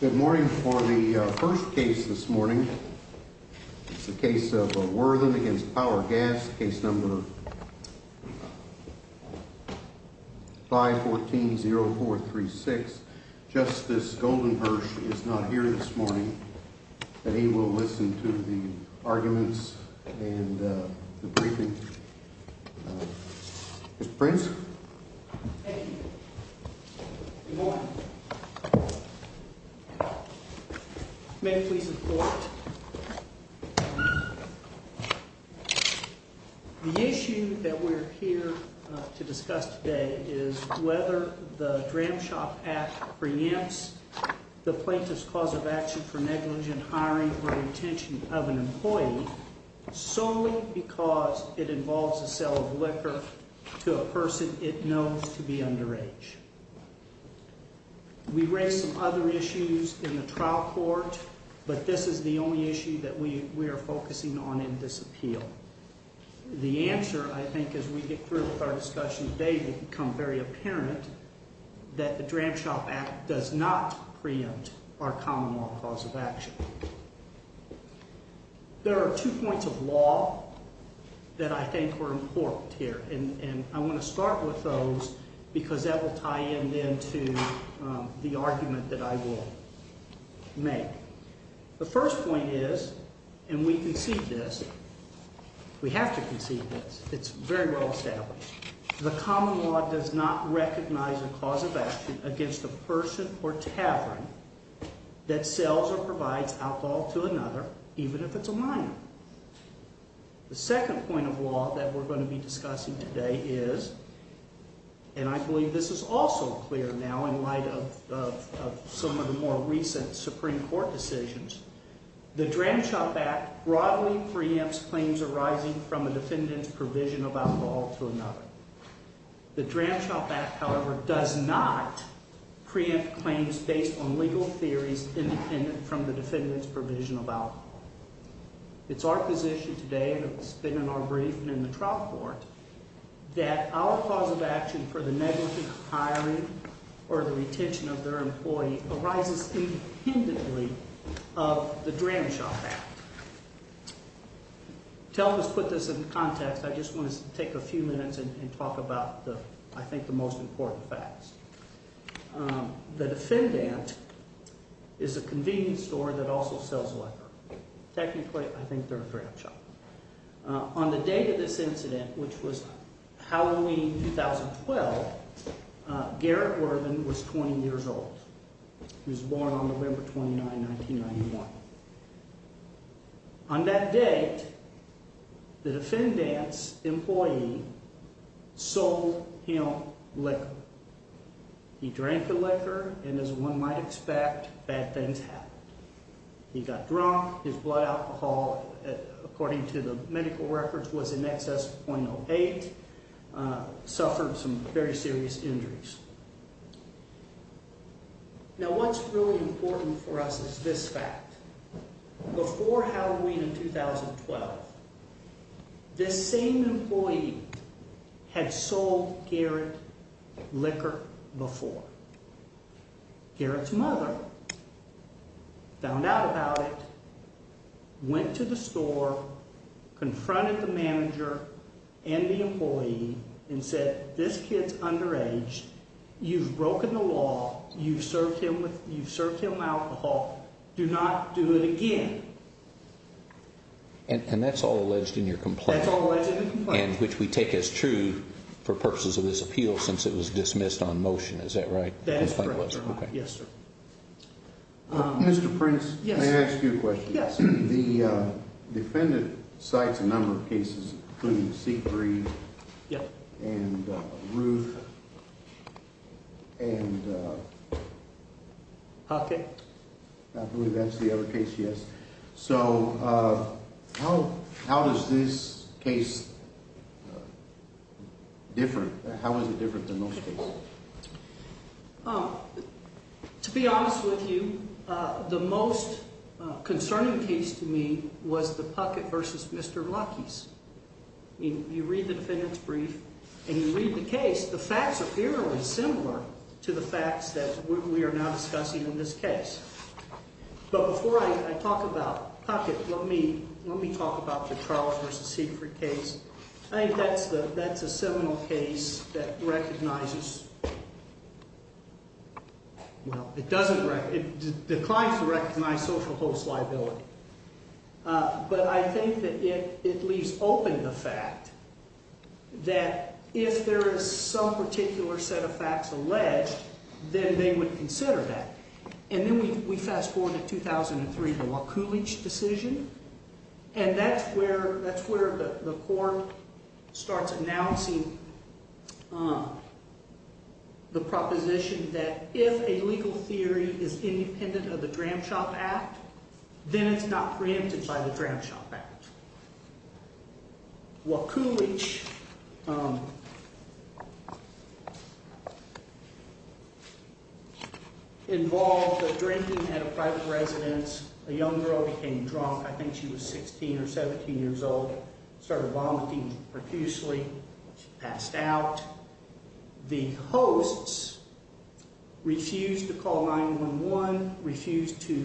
Good morning for the first case this morning. It's the case of Worthen v. Power Gas, case number 514-0436. Justice Goldenhirsch is not here this morning, but he will listen to the arguments and the briefing. Mr. Prince? Thank you. Good morning. May it please the Court. The issue that we're here to discuss today is whether the Dram Shop Act preempts the plaintiff's cause of action for negligent hiring or retention of an employee solely because it involves the sale of liquor to a person it knows to be underage. We raised some other issues in the trial court, but this is the only issue that we are focusing on in this appeal. The answer, I think, as we get through with our discussion today, will become very apparent that the Dram Shop Act does not preempt our common law cause of action. There are two points of law that I think are important here, and I want to start with those because that will tie in then to the argument that I will make. The first point is, and we concede this, we have to concede this, it's very well established. The common law does not recognize a cause of action against a person or tavern that sells or provides alcohol to another, even if it's a minor. The second point of law that we're going to be discussing today is, and I believe this is also clear now in light of some of the more recent Supreme Court decisions, the Dram Shop Act broadly preempts claims arising from a defendant's provision of alcohol to another. The Dram Shop Act, however, does not preempt claims based on legal theories independent from the defendant's provision of alcohol. It's our position today, and it's been in our brief and in the trial court, that our cause of action for the negligence of hiring or the retention of their employee arises independently of the Dram Shop Act. To help us put this in context, I just want to take a few minutes and talk about the – I think the most important facts. The defendant is a convenience store that also sells liquor. Technically, I think they're a Dram Shop. On the date of this incident, which was Halloween 2012, Garrett Worthing was 20 years old. He was born on November 29, 1991. On that date, the defendant's employee sold him liquor. He drank the liquor, and as one might expect, bad things happened. He got drunk. His blood alcohol, according to the medical records, was in excess of .08, suffered some very serious injuries. Now, what's really important for us is this fact. Before Halloween 2012, this same employee had sold Garrett liquor before. Garrett's mother found out about it, went to the store, confronted the manager and the employee, and said, This kid's underage. You've broken the law. You've served him alcohol. Do not do it again. And that's all alleged in your complaint. And which we take as true for purposes of this appeal since it was dismissed on motion. Is that right? That is correct. Yes, sir. Mr. Prince, may I ask you a question? Yes. The defendant cites a number of cases, including Siegfried and Ruth. I believe that's the other case, yes. So how does this case differ? How is it different than most cases? To be honest with you, the most concerning case to me was the Puckett v. Mr. Lucky's. You read the defendant's brief, and you read the case, the facts are fairly similar to the facts that we are now discussing in this case. But before I talk about Puckett, let me talk about the Charles v. Siegfried case. I think that's a seminal case that recognizes, well, it doesn't recognize, it declines to recognize social host liability. But I think that it leaves open the fact that if there is some particular set of facts alleged, then they would consider that. And then we fast forward to 2003, the Wakulich decision, and that's where the court starts announcing the proposition that if a legal theory is independent of the Dram Shop Act, then it's not preempted by the Dram Shop Act. Wakulich involved drinking at a private residence. A young girl became drunk. I think she was 16 or 17 years old, started vomiting profusely. She passed out. The hosts refused to call 911, refused to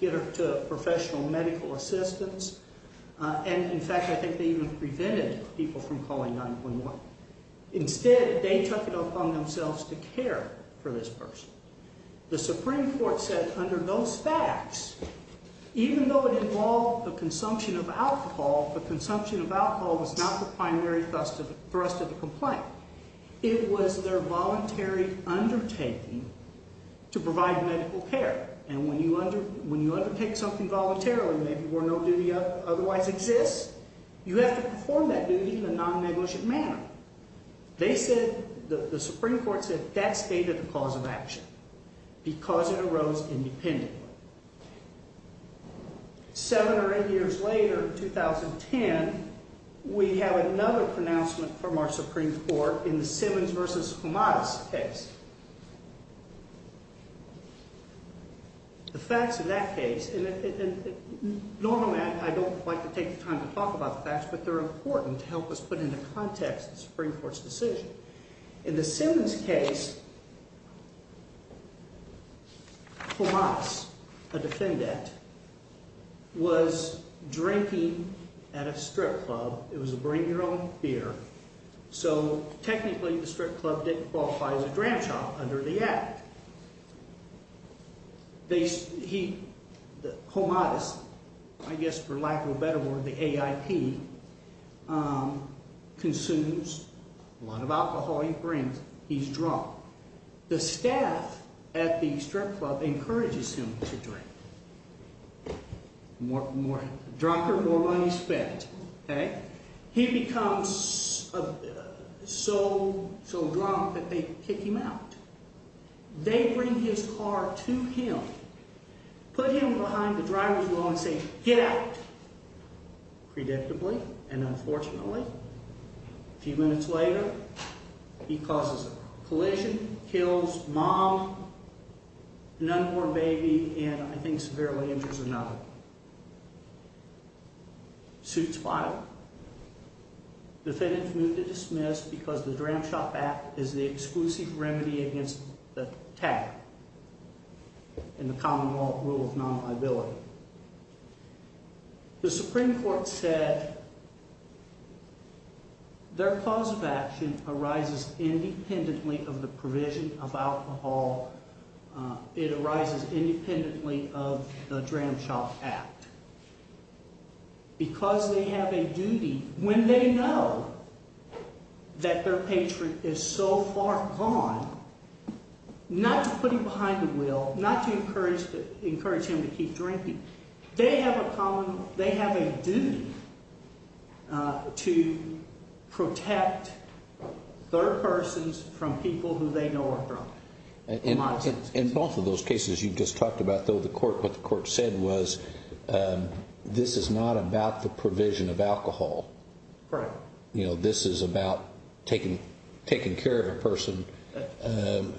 get her to professional medical assistance, and in fact, I think they even prevented people from calling 911. Instead, they took it upon themselves to care for this person. The Supreme Court said under those facts, even though it involved the consumption of alcohol, the consumption of alcohol was not the primary thrust of the complaint. It was their voluntary undertaking to provide medical care. And when you undertake something voluntarily where no duty otherwise exists, you have to perform that duty in a non-negligent manner. They said, the Supreme Court said that stated the cause of action because it arose independently. Seven or eight years later, 2010, we have another pronouncement from our Supreme Court in the Simmons v. Fomadis case. The facts in that case, and normally I don't like to take the time to talk about the facts, but they're important to help us put into context the Supreme Court's decision. In the Simmons case, Fomadis, a defendant, was drinking at a strip club. It was a bring-your-own beer, so technically, the strip club didn't qualify as a dram shop under the act. Fomadis, I guess for lack of a better word, the AIP, consumes a lot of alcohol he brings. He's drunk. The staff at the strip club encourages him to drink. Drunker, more money spent. He becomes so drunk that they kick him out. They bring his car to him, put him behind the driver's wheel and say, get out. Predictably and unfortunately, a few minutes later, he causes a collision, kills mom, an unborn baby, and I think severely injures another. Suits filed. Defendant is moved to dismiss because the dram shop act is the exclusive remedy against the tagger in the common law rule of non-liability. The Supreme Court said their cause of action arises independently of the provision of alcohol. It arises independently of the dram shop act. Because they have a duty, when they know that their patron is so far gone, not to put him behind the wheel, not to encourage him to keep drinking. They have a common, they have a duty to protect their persons from people who they know are drunk. In both of those cases you just talked about though, what the court said was, this is not about the provision of alcohol. Correct. You know, this is about taking care of a person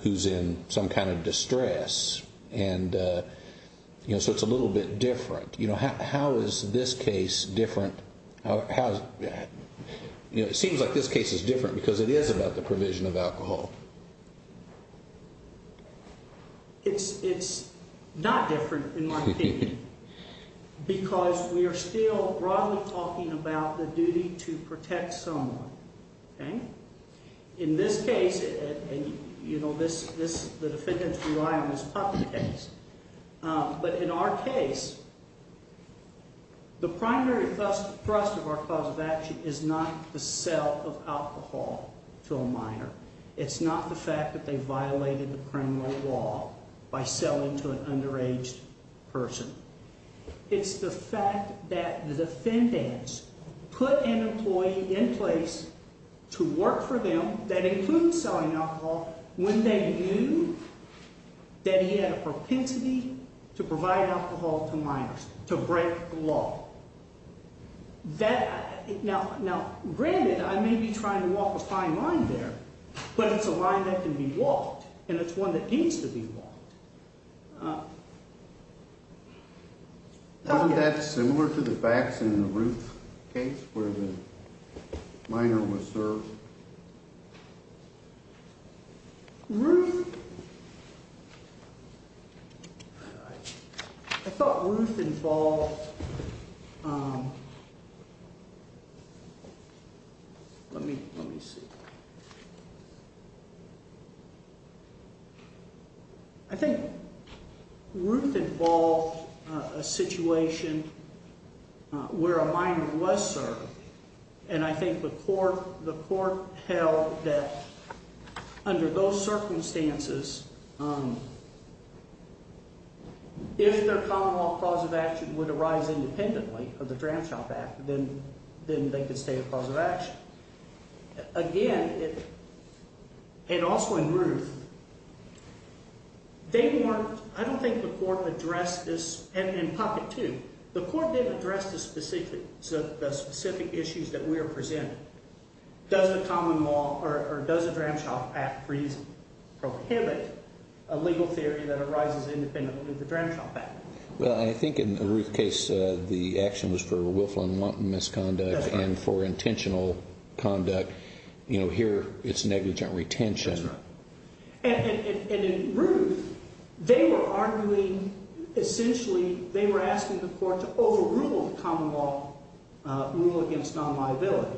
who's in some kind of distress. And, you know, so it's a little bit different. You know, how is this case different, you know, it seems like this case is different because it is about the provision of alcohol. It's not different in my opinion. Because we are still broadly talking about the duty to protect someone. In this case, you know, the defendants rely on this public case. But in our case, the primary thrust of our cause of action is not the sale of alcohol to a minor. It's not the fact that they violated the criminal law by selling to an underaged person. It's the fact that the defendants put an employee in place to work for them, that includes selling alcohol, when they knew that he had a propensity to provide alcohol to minors, to break the law. Now, granted, I may be trying to walk a fine line there, but it's a line that can be walked. And it's one that needs to be walked. Isn't that similar to the facts in the Ruth case where the minor was served? Ruth? I thought Ruth involved – let me see. I think Ruth involved a situation where a minor was served. And I think the court held that under those circumstances, if their common law cause of action would arise independently of the Dram Shop Act, then they could stay a cause of action. Again, and also in Ruth, they weren't – I don't think the court addressed this – and in Puppet, too. The court didn't address the specific issues that we are presenting. Does the common law or does the Dram Shop Act for easy prohibit a legal theory that arises independently of the Dram Shop Act? Well, I think in the Ruth case, the action was for willful and wanton misconduct and for intentional conduct. Here, it's negligent retention. And in Ruth, they were arguing – essentially, they were asking the court to overrule the common law rule against non-liability.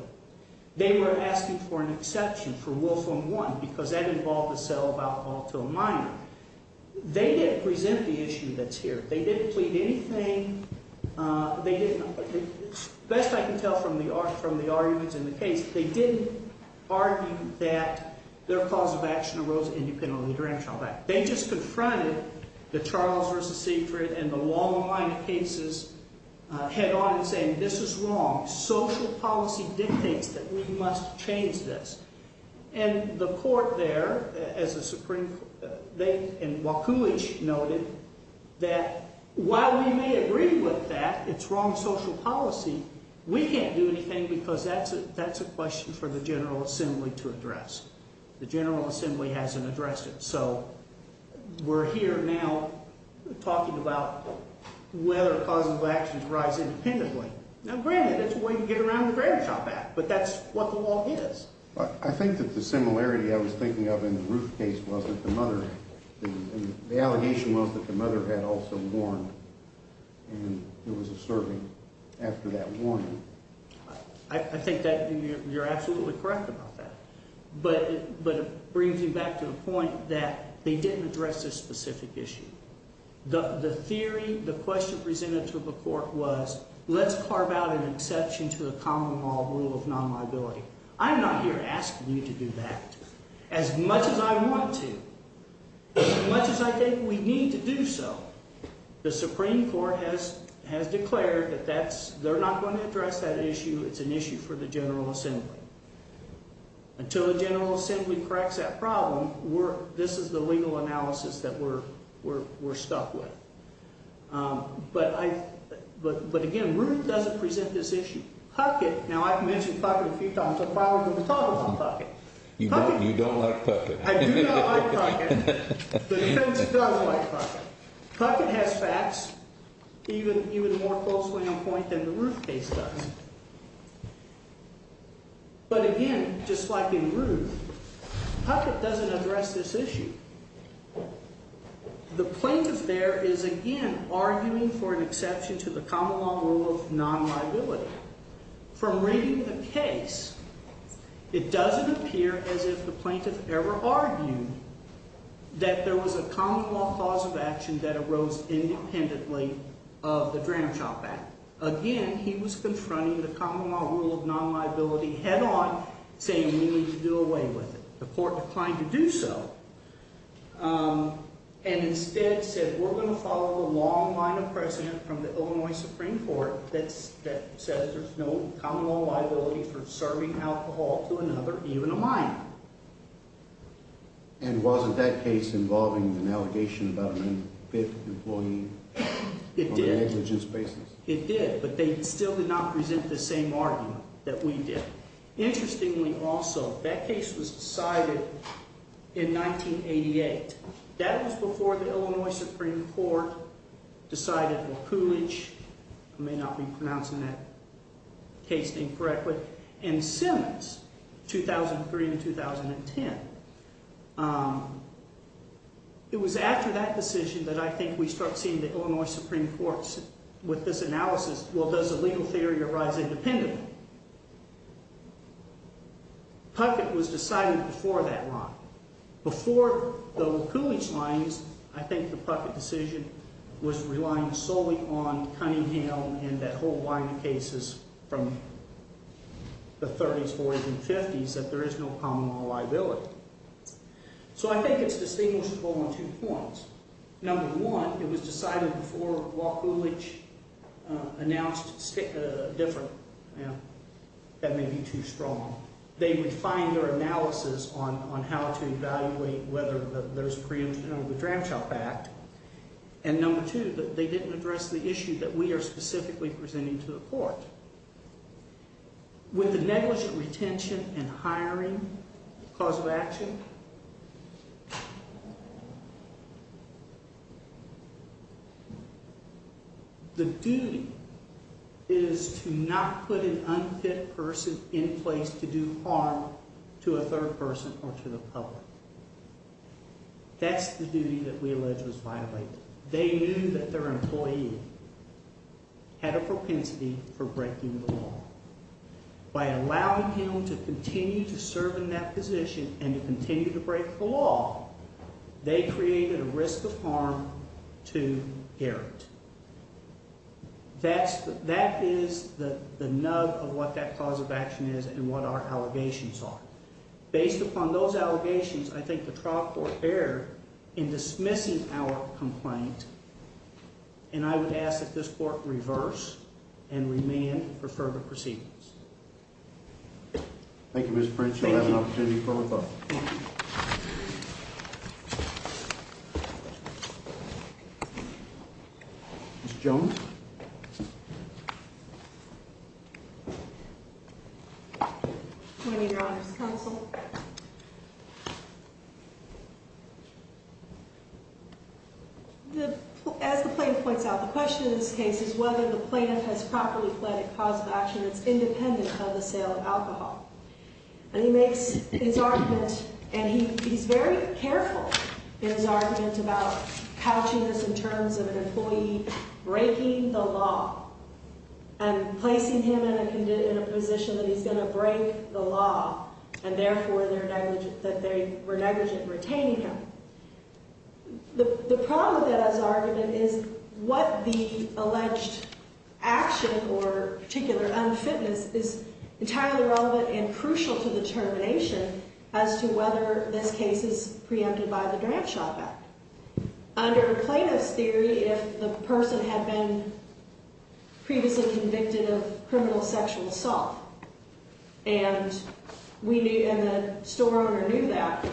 They were asking for an exception for willful and wanton because that involved the sale of alcohol to a minor. They didn't present the issue that's here. They didn't plead anything. They didn't – best I can tell from the arguments in the case, they didn't argue that their cause of action arose independently of the Dram Shop Act. They just confronted the Charles v. Siegfried and the long line of cases head on and saying this is wrong. Social policy dictates that we must change this. And the court there, as the Supreme – they – and Wachowicz noted that while we may agree with that it's wrong social policy, we can't do anything because that's a question for the General Assembly to address. The General Assembly hasn't addressed it. So we're here now talking about whether a cause of action arises independently. Now, granted, it's a way to get around the Dram Shop Act, but that's what the law is. I think that the similarity I was thinking of in the Ruth case was that the mother – the allegation was that the mother had also warned, and there was a serving after that warning. I think that you're absolutely correct about that. But it brings me back to the point that they didn't address this specific issue. The theory, the question presented to the court was let's carve out an exception to the common law rule of non-liability. I'm not here asking you to do that. As much as I want to, as much as I think we need to do so, the Supreme Court has declared that that's – they're not going to address that issue. It's an issue for the General Assembly. Until the General Assembly corrects that problem, we're – this is the legal analysis that we're stuck with. But, again, Ruth doesn't present this issue. Puckett – now, I've mentioned Puckett a few times. I'm probably going to talk about Puckett. You don't like Puckett. I do not like Puckett. The defense does like Puckett. Puckett has facts even more closely on point than the Ruth case does. But, again, just like in Ruth, Puckett doesn't address this issue. The plaintiff there is, again, arguing for an exception to the common law rule of non-liability. From reading the case, it doesn't appear as if the plaintiff ever argued that there was a common law cause of action that arose independently of the Dramchop Act. Again, he was confronting the common law rule of non-liability head-on, saying we need to do away with it. The court declined to do so and instead said we're going to follow the long line of precedent from the Illinois Supreme Court that says there's no common law liability for serving alcohol to another, even a minor. And wasn't that case involving an allegation about an unfit employee on a negligence basis? It did, but they still did not present the same argument that we did. Interestingly, also, that case was decided in 1988. That was before the Illinois Supreme Court decided McCoolidge, I may not be pronouncing that case name correctly, and Simmons, 2003 to 2010. It was after that decision that I think we start seeing the Illinois Supreme Court with this analysis, well, does a legal theory arise independently? Puckett was decided before that line. So I think it's distinguishable in two forms. Number one, it was decided before McCoolidge announced a different, you know, that may be too strong. They would find their analysis on how to evaluate whether there's preemption under the Dramchop Act. And number two, they didn't address the issue that we are specifically presenting to the court. With the negligent retention and hiring cause of action, the duty is to not put an unfit person in place to do harm to a third person or to the public. That's the duty that we allege was violated. They knew that their employee had a propensity for breaking the law. By allowing him to continue to serve in that position and to continue to break the law, they created a risk of harm to Garrett. That is the nub of what that cause of action is and what our allegations are. Based upon those allegations, I think the trial court erred in dismissing our complaint. And I would ask that this court reverse and remand for further proceedings. Thank you, Mr. French. You'll have an opportunity for rebuttal. Ms. Jones? I'm going to need your honor's counsel. As the plaintiff points out, the question in this case is whether the plaintiff has properly fled a cause of action that's independent of the sale of alcohol. And he makes his argument, and he's very careful in his argument about couching this in terms of an employee breaking the law and placing him in a position that he's going to break the law and, therefore, that they were negligent in retaining him. The problem with that as an argument is what the alleged action or particular unfitness is entirely relevant and crucial to the termination as to whether this case is preempted by the Draft Shot Act. Under a plaintiff's theory, if the person had been previously convicted of criminal sexual assault and the store owner knew that,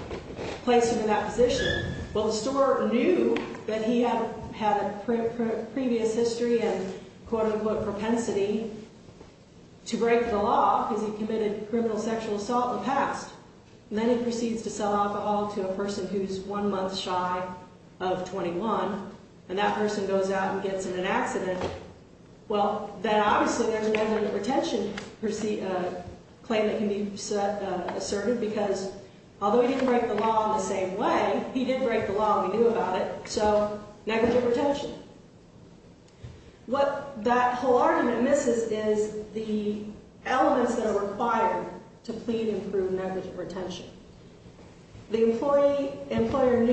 placed him in that position, well, the store owner knew that he had a previous history and, quote, unquote, propensity to break the law because he committed criminal sexual assault in the past. And then he proceeds to sell alcohol to a person who's one month shy of 21, and that person goes out and gets in an accident, well, then, obviously, there's a negative retention claim that can be asserted because, although he didn't break the law in the same way, he did break the law and we knew about it, so negative retention. What that whole argument misses is the elements that are required to plead and prove negative retention. The employee, employer knew,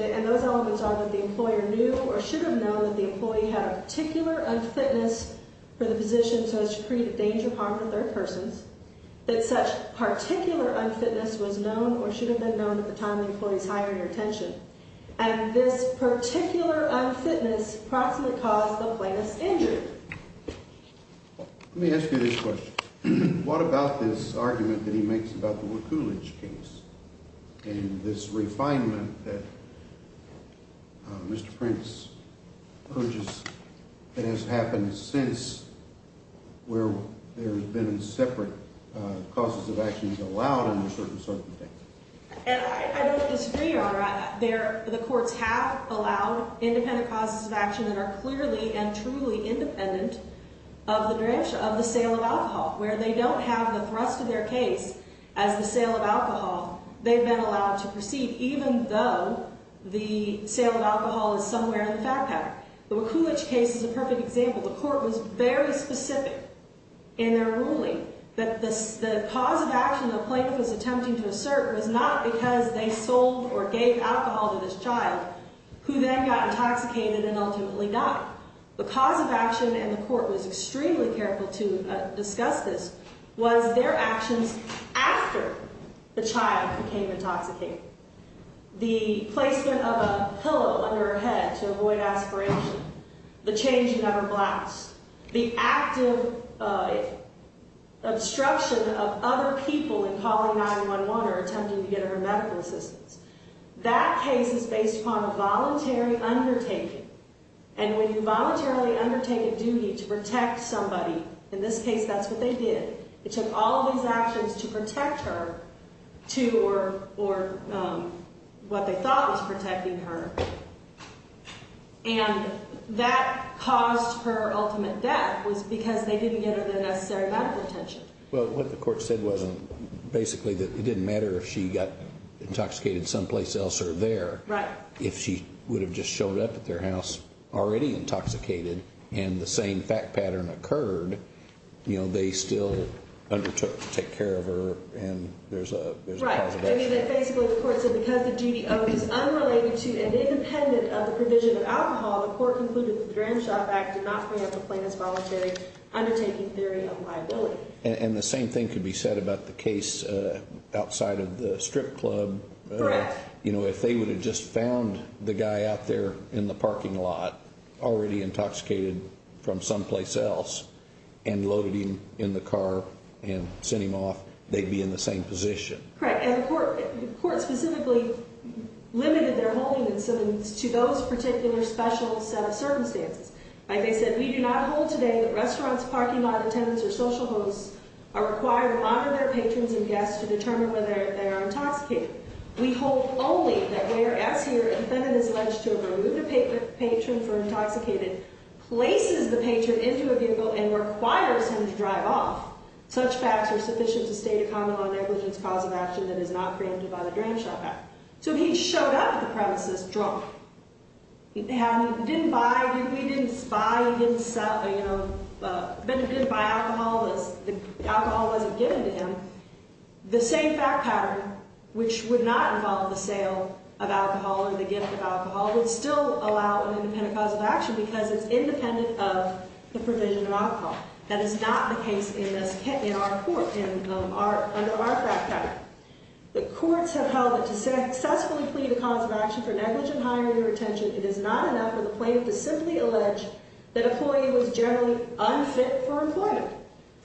and those elements are that the employer knew or should have known that the employee had a particular unfitness for the position so as to create a danger of harm for third persons, that such particular unfitness was known or should have been known at the time of the employee's hiring or retention, and this particular unfitness approximately caused the plaintiff's injury. Let me ask you this question. What about this argument that he makes about the Wakulich case and this refinement that Mr. Prince purges that has happened since where there have been separate causes of actions allowed under certain circumstances? I don't disagree, Your Honor. The courts have allowed independent causes of action that are clearly and truly independent of the sale of alcohol. Where they don't have the thrust of their case as the sale of alcohol, they've been allowed to proceed even though the sale of alcohol is somewhere in the fact pattern. The Wakulich case is a perfect example. The court was very specific in their ruling that the cause of action the plaintiff was attempting to assert was not because they sold or gave alcohol to this child who then got intoxicated and ultimately died. The cause of action, and the court was extremely careful to discuss this, was their actions after the child became intoxicated. The placement of a pillow under her head to avoid aspiration. The changing of her blouse. The active obstruction of other people in calling 911 or attempting to get her medical assistance. That case is based upon a voluntary undertaking, and when you voluntarily undertake a duty to protect somebody, in this case that's what they did. It took all of these actions to protect her, or what they thought was protecting her, and that caused her ultimate death was because they didn't get her the necessary medical attention. Well, what the court said was basically that it didn't matter if she got intoxicated someplace else or there. Right. If she would have just showed up at their house already intoxicated and the same fact pattern occurred, they still undertook to take care of her and there's a cause of action. Right. Basically, the court said because the duty owed is unrelated to and independent of the provision of alcohol, the court concluded that the Grand Shop Act did not grant the plaintiff's voluntary undertaking theory of liability. And the same thing could be said about the case outside of the strip club. Correct. If they would have just found the guy out there in the parking lot already intoxicated from someplace else and loaded him in the car and sent him off, they'd be in the same position. Correct. And the court specifically limited their holding incentives to those particular special set of circumstances. Like I said, we do not hold today that restaurants, parking lot attendants, or social hosts are required to honor their patrons and guests to determine whether they are intoxicated. We hold only that where S here intended his alleged to have removed a patron for intoxicated places the patron into a vehicle and requires him to drive off, such facts are sufficient to state a common law negligence cause of action that is not preempted by the Grand Shop Act. So he showed up at the premises drunk. He didn't buy alcohol. The alcohol wasn't given to him. The same fact pattern, which would not involve the sale of alcohol or the gift of alcohol, would still allow an independent cause of action because it's independent of the provision of alcohol. That is not the case in our court, in our fact pattern. The courts have held that to successfully plead a cause of action for negligent hiring or retention, it is not enough for the plaintiff to simply allege that an employee was generally unfit for employment.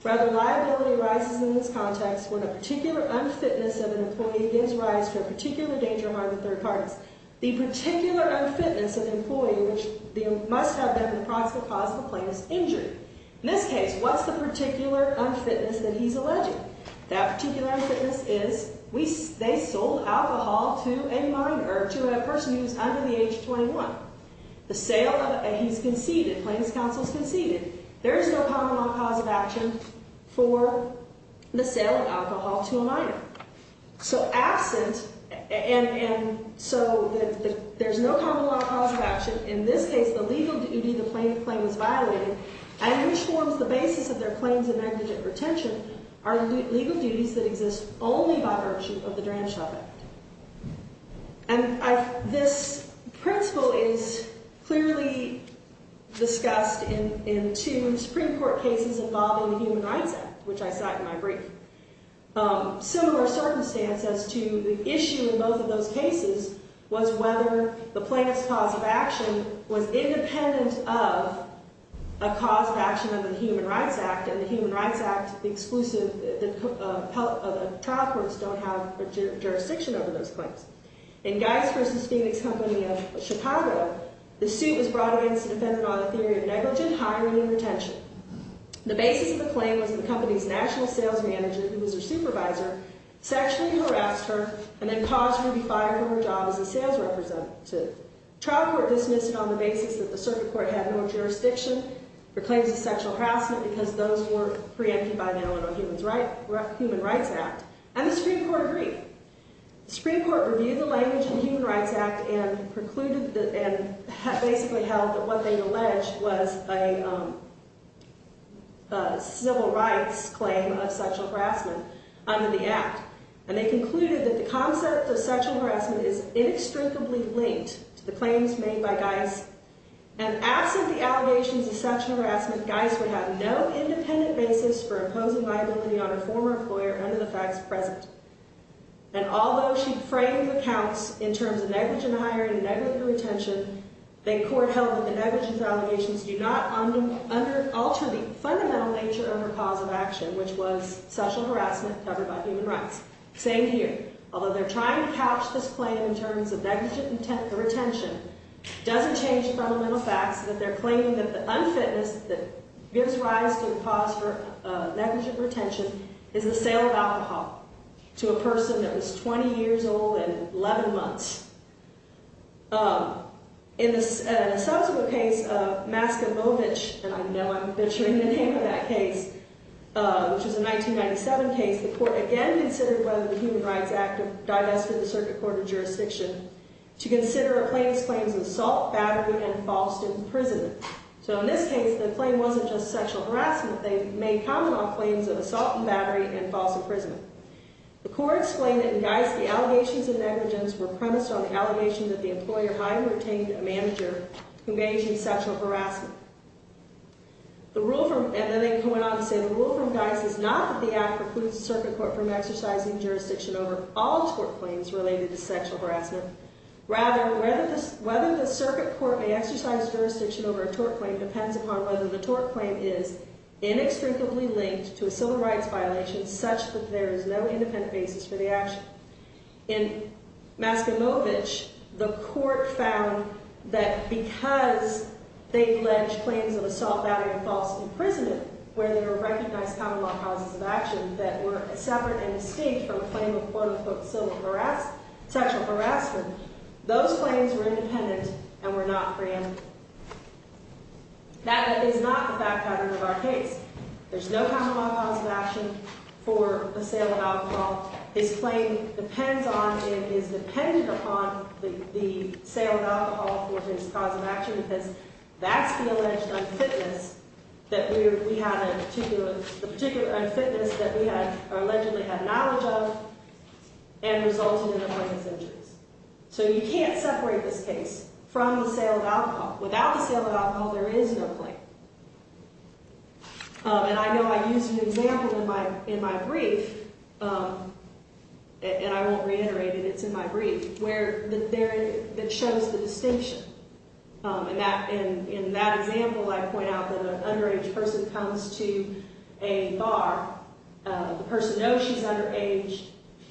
Rather, liability arises in this context when a particular unfitness of an employee gives rise to a particular danger among the third parties. The particular unfitness of an employee must have been the possible cause of the plaintiff's injury. In this case, what's the particular unfitness that he's alleging? That particular unfitness is they sold alcohol to a minor, to a person who's under the age of 21. He's conceded, plaintiff's counsel's conceded. There is no common law cause of action for the sale of alcohol to a minor. So absent, and so there's no common law cause of action. In this case, the legal duty the plaintiff claimed was violated, and which forms the basis of their claims of negligent retention, are legal duties that exist only by virtue of the Dranshaw Act. And this principle is clearly discussed in two Supreme Court cases involving the Human Rights Act, which I cite in my brief. Similar circumstance as to the issue in both of those cases was whether the plaintiff's cause of action was independent of a cause of action under the Human Rights Act, and the Human Rights Act exclusive trial courts don't have jurisdiction over those claims. In Geist v. Phoenix Company of Chicago, the suit was brought against the defendant on a theory of negligent hiring and retention. The basis of the claim was that the company's national sales manager, who was their supervisor, sexually harassed her and then caused her to be fired from her job as a sales representative. Trial court dismissed it on the basis that the circuit court had no jurisdiction for claims of sexual harassment because those were preempted by the Illinois Human Rights Act. And the Supreme Court agreed. The Supreme Court reviewed the language in the Human Rights Act and basically held that what they alleged was a civil rights claim of sexual harassment under the Act. And they concluded that the concept of sexual harassment is inextricably linked to the claims made by Geist. And absent the allegations of sexual harassment, Geist would have no independent basis for imposing liability on a former employer under the facts present. And although she framed the counts in terms of negligent hiring and negligent retention, the court held that the negligence allegations do not alter the fundamental nature of her cause of action, which was sexual harassment covered by human rights. Same here. Although they're trying to couch this claim in terms of negligent retention, it doesn't change the fundamental facts that they're claiming that the unfitness that gives rise to the cause for negligent retention is the sale of alcohol to a person that was 20 years old and 11 months. In a subsequent case of Maskevovich, and I know I'm butchering the name of that case, which was a 1997 case, the court again considered whether the Human Rights Act divested the Circuit Court of Jurisdiction to consider a claim as claims of assault, battery, and false imprisonment. So in this case, the claim wasn't just sexual harassment. They made comment on claims of assault and battery and false imprisonment. The court explained that in Geist, the allegations of negligence were premised on the allegation that the employer highly retained a manager who engaged in sexual harassment. And then they went on to say, the rule from Geist is not that the act precludes the Circuit Court from exercising jurisdiction over all tort claims related to sexual harassment. Rather, whether the Circuit Court may exercise jurisdiction over a tort claim depends upon whether the tort claim is inextricably linked to a civil rights violation such that there is no independent basis for the action. In Maskevovich, the court found that because they alleged claims of assault, battery, and false imprisonment, where there were recognized common law causes of action that were separate and distinct from a claim of quote, unquote, civil harassment, sexual harassment, those claims were independent and were not granted. That is not the back pattern of our case. There's no common law cause of action for assailant alcohol. His claim depends on and is dependent upon the assailant alcohol for his cause of action because that's the alleged unfitness that we had a particular unfitness that we had allegedly had knowledge of and resulted in the plaintiff's injuries. So you can't separate this case from the assailant alcohol. Without the assailant alcohol, there is no claim. And I know I used an example in my brief, and I won't reiterate it. It's in my brief, that shows the distinction. In that example, I point out that an underage person comes to a bar. The person knows she's underage.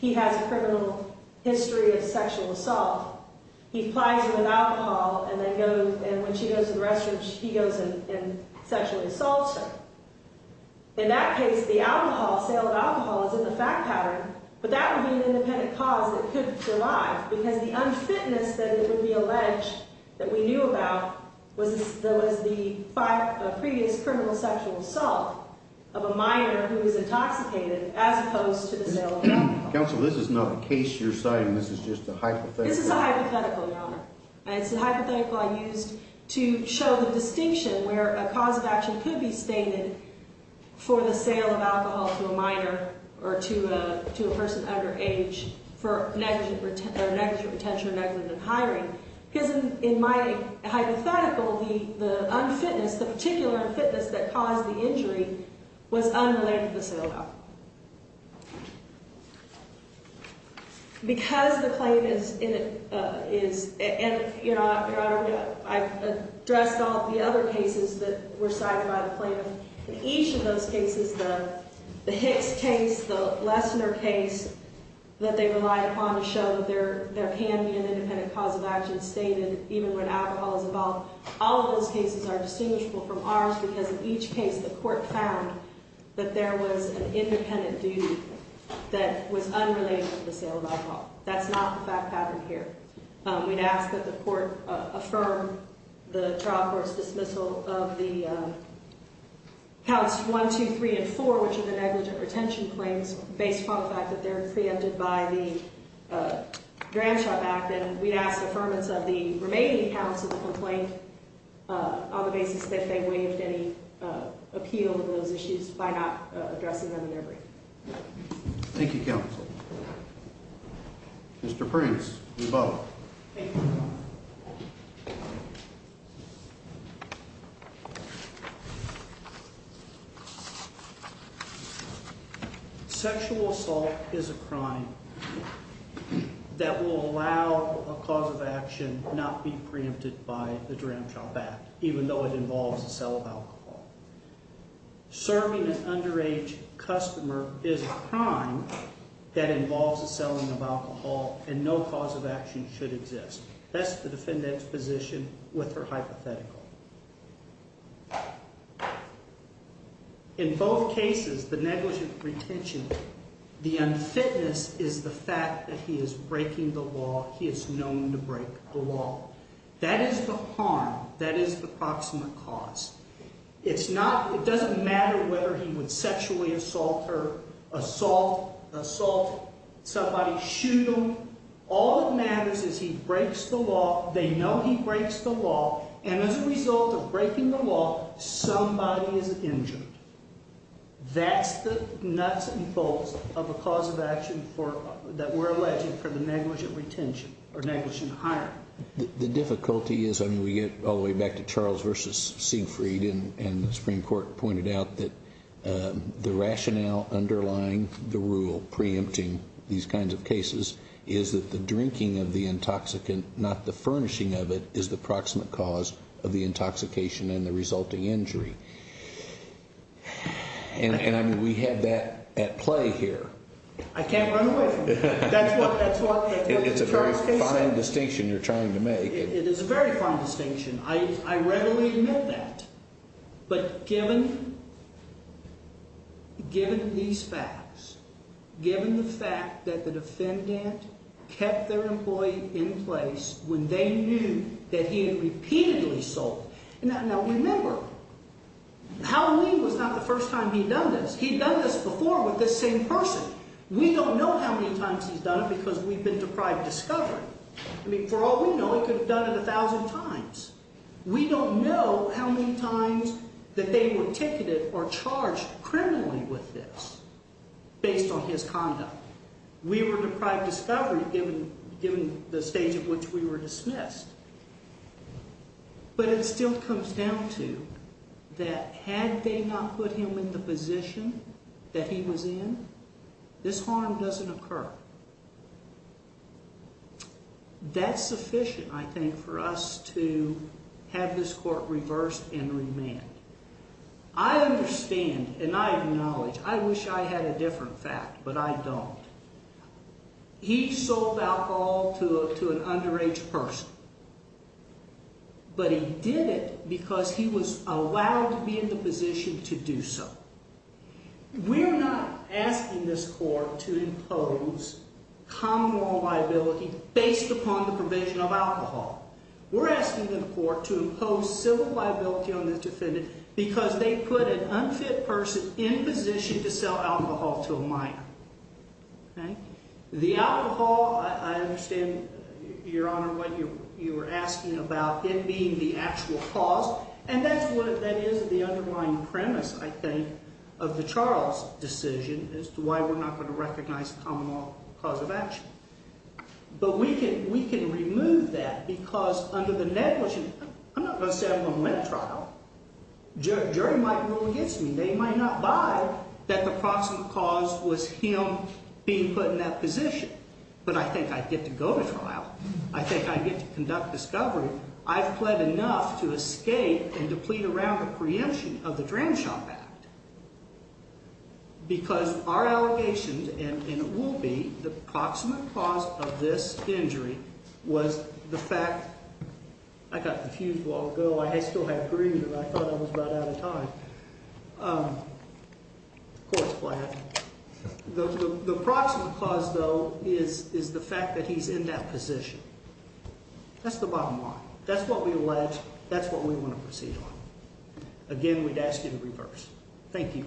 He has a criminal history of sexual assault. He supplies her with alcohol, and when she goes to the restroom, he goes and sexually assaults her. In that case, the sale of alcohol is in the fact pattern, but that would be an independent cause that could survive because the unfitness that it would be alleged that we knew about was the previous criminal sexual assault of a minor who was intoxicated as opposed to the sale of alcohol. Counsel, this is not a case you're citing. This is just a hypothetical. This is a hypothetical, Your Honor. It's a hypothetical I used to show the distinction where a cause of action could be stated for the sale of alcohol to a minor or to a person underage for negligent retention or negligent in hiring. Because in my hypothetical, the unfitness, the particular unfitness that caused the injury was unrelated to the sale of alcohol. Because the claim is, and Your Honor, I've addressed all the other cases that were cited by the claimant. In each of those cases, the Hicks case, the Lessner case that they relied upon to show that there can be an independent cause of action stated even when alcohol is involved, all of those cases are distinguishable from ours because in each case, the court found that there was an independent duty that was unrelated to the sale of alcohol. That's not the fact pattern here. We'd ask that the court affirm the trial court's dismissal of the counts one, two, three, and four, which are the negligent retention claims based upon the fact that they're preempted by the Gramshot Act. And then we'd ask affirmance of the remaining counts of the complaint on the basis that they waived any appeal of those issues by not addressing them in their brief. Thank you, counsel. Mr. Prince, you're both. Thank you, Your Honor. Sexual assault is a crime that will allow a cause of action not be preempted by the Gramshot Act, even though it involves the sale of alcohol. Serving an underage customer is a crime that involves the selling of alcohol, and no cause of action should exist. That's the defendant's position with her hypothetical. In both cases, the negligent retention, the unfitness is the fact that he is breaking the law. He is known to break the law. That is the harm. That is the proximate cause. It doesn't matter whether he would sexually assault her, assault somebody, shoot them. All that matters is he breaks the law. They know he breaks the law. And as a result of breaking the law, somebody is injured. That's the nuts and bolts of a cause of action that we're alleging for the negligent retention or negligent hiring. The difficulty is, I mean, we get all the way back to Charles v. Siegfried, and the Supreme Court pointed out that the rationale underlying the rule preempting these kinds of cases is that the drinking of the intoxicant, not the furnishing of it, is the proximate cause of the intoxication and the resulting injury. And, I mean, we have that at play here. I can't run away from it. That's what Charles can say. It's a fine distinction you're trying to make. It is a very fine distinction. I readily admit that. But given these facts, given the fact that the defendant kept their employee in place when they knew that he had repeatedly sold. Now, remember, Halloween was not the first time he'd done this. He'd done this before with this same person. We don't know how many times he's done it because we've been deprived discovery. I mean, for all we know, he could have done it a thousand times. We don't know how many times that they were ticketed or charged criminally with this based on his conduct. We were deprived discovery given the stage at which we were dismissed. But it still comes down to that had they not put him in the position that he was in, this harm doesn't occur. That's sufficient, I think, for us to have this court reversed and remanded. I understand, and I acknowledge, I wish I had a different fact, but I don't. He sold alcohol to an underage person. But he did it because he was allowed to be in the position to do so. We're not asking this court to impose common law liability based upon the provision of alcohol. We're asking the court to impose civil liability on this defendant because they put an unfit person in position to sell alcohol to a minor. The alcohol, I understand, Your Honor, what you were asking about it being the actual cause, and that is the underlying premise, I think, of the Charles decision as to why we're not going to recognize common law cause of action. But we can remove that because under the negligence, I'm not going to say I'm going to let a trial. Jury might rule against me. They might not buy that the proximate cause was him being put in that position. But I think I'd get to go to trial. I think I'd get to conduct discovery. I've pled enough to escape and to plead around the preemption of the Dram Shop Act because our allegations, and it will be, the proximate cause of this injury was the fact, I got confused a while ago. I still have grief and I thought I was right out of time. Court is flat. The proximate cause, though, is the fact that he's in that position. That's the bottom line. That's what we allege. That's what we want to proceed on. Again, we'd ask you to reverse. Thank you.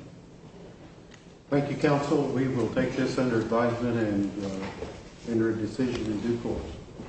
Thank you, counsel. We will take this under advisement and enter a decision in due course.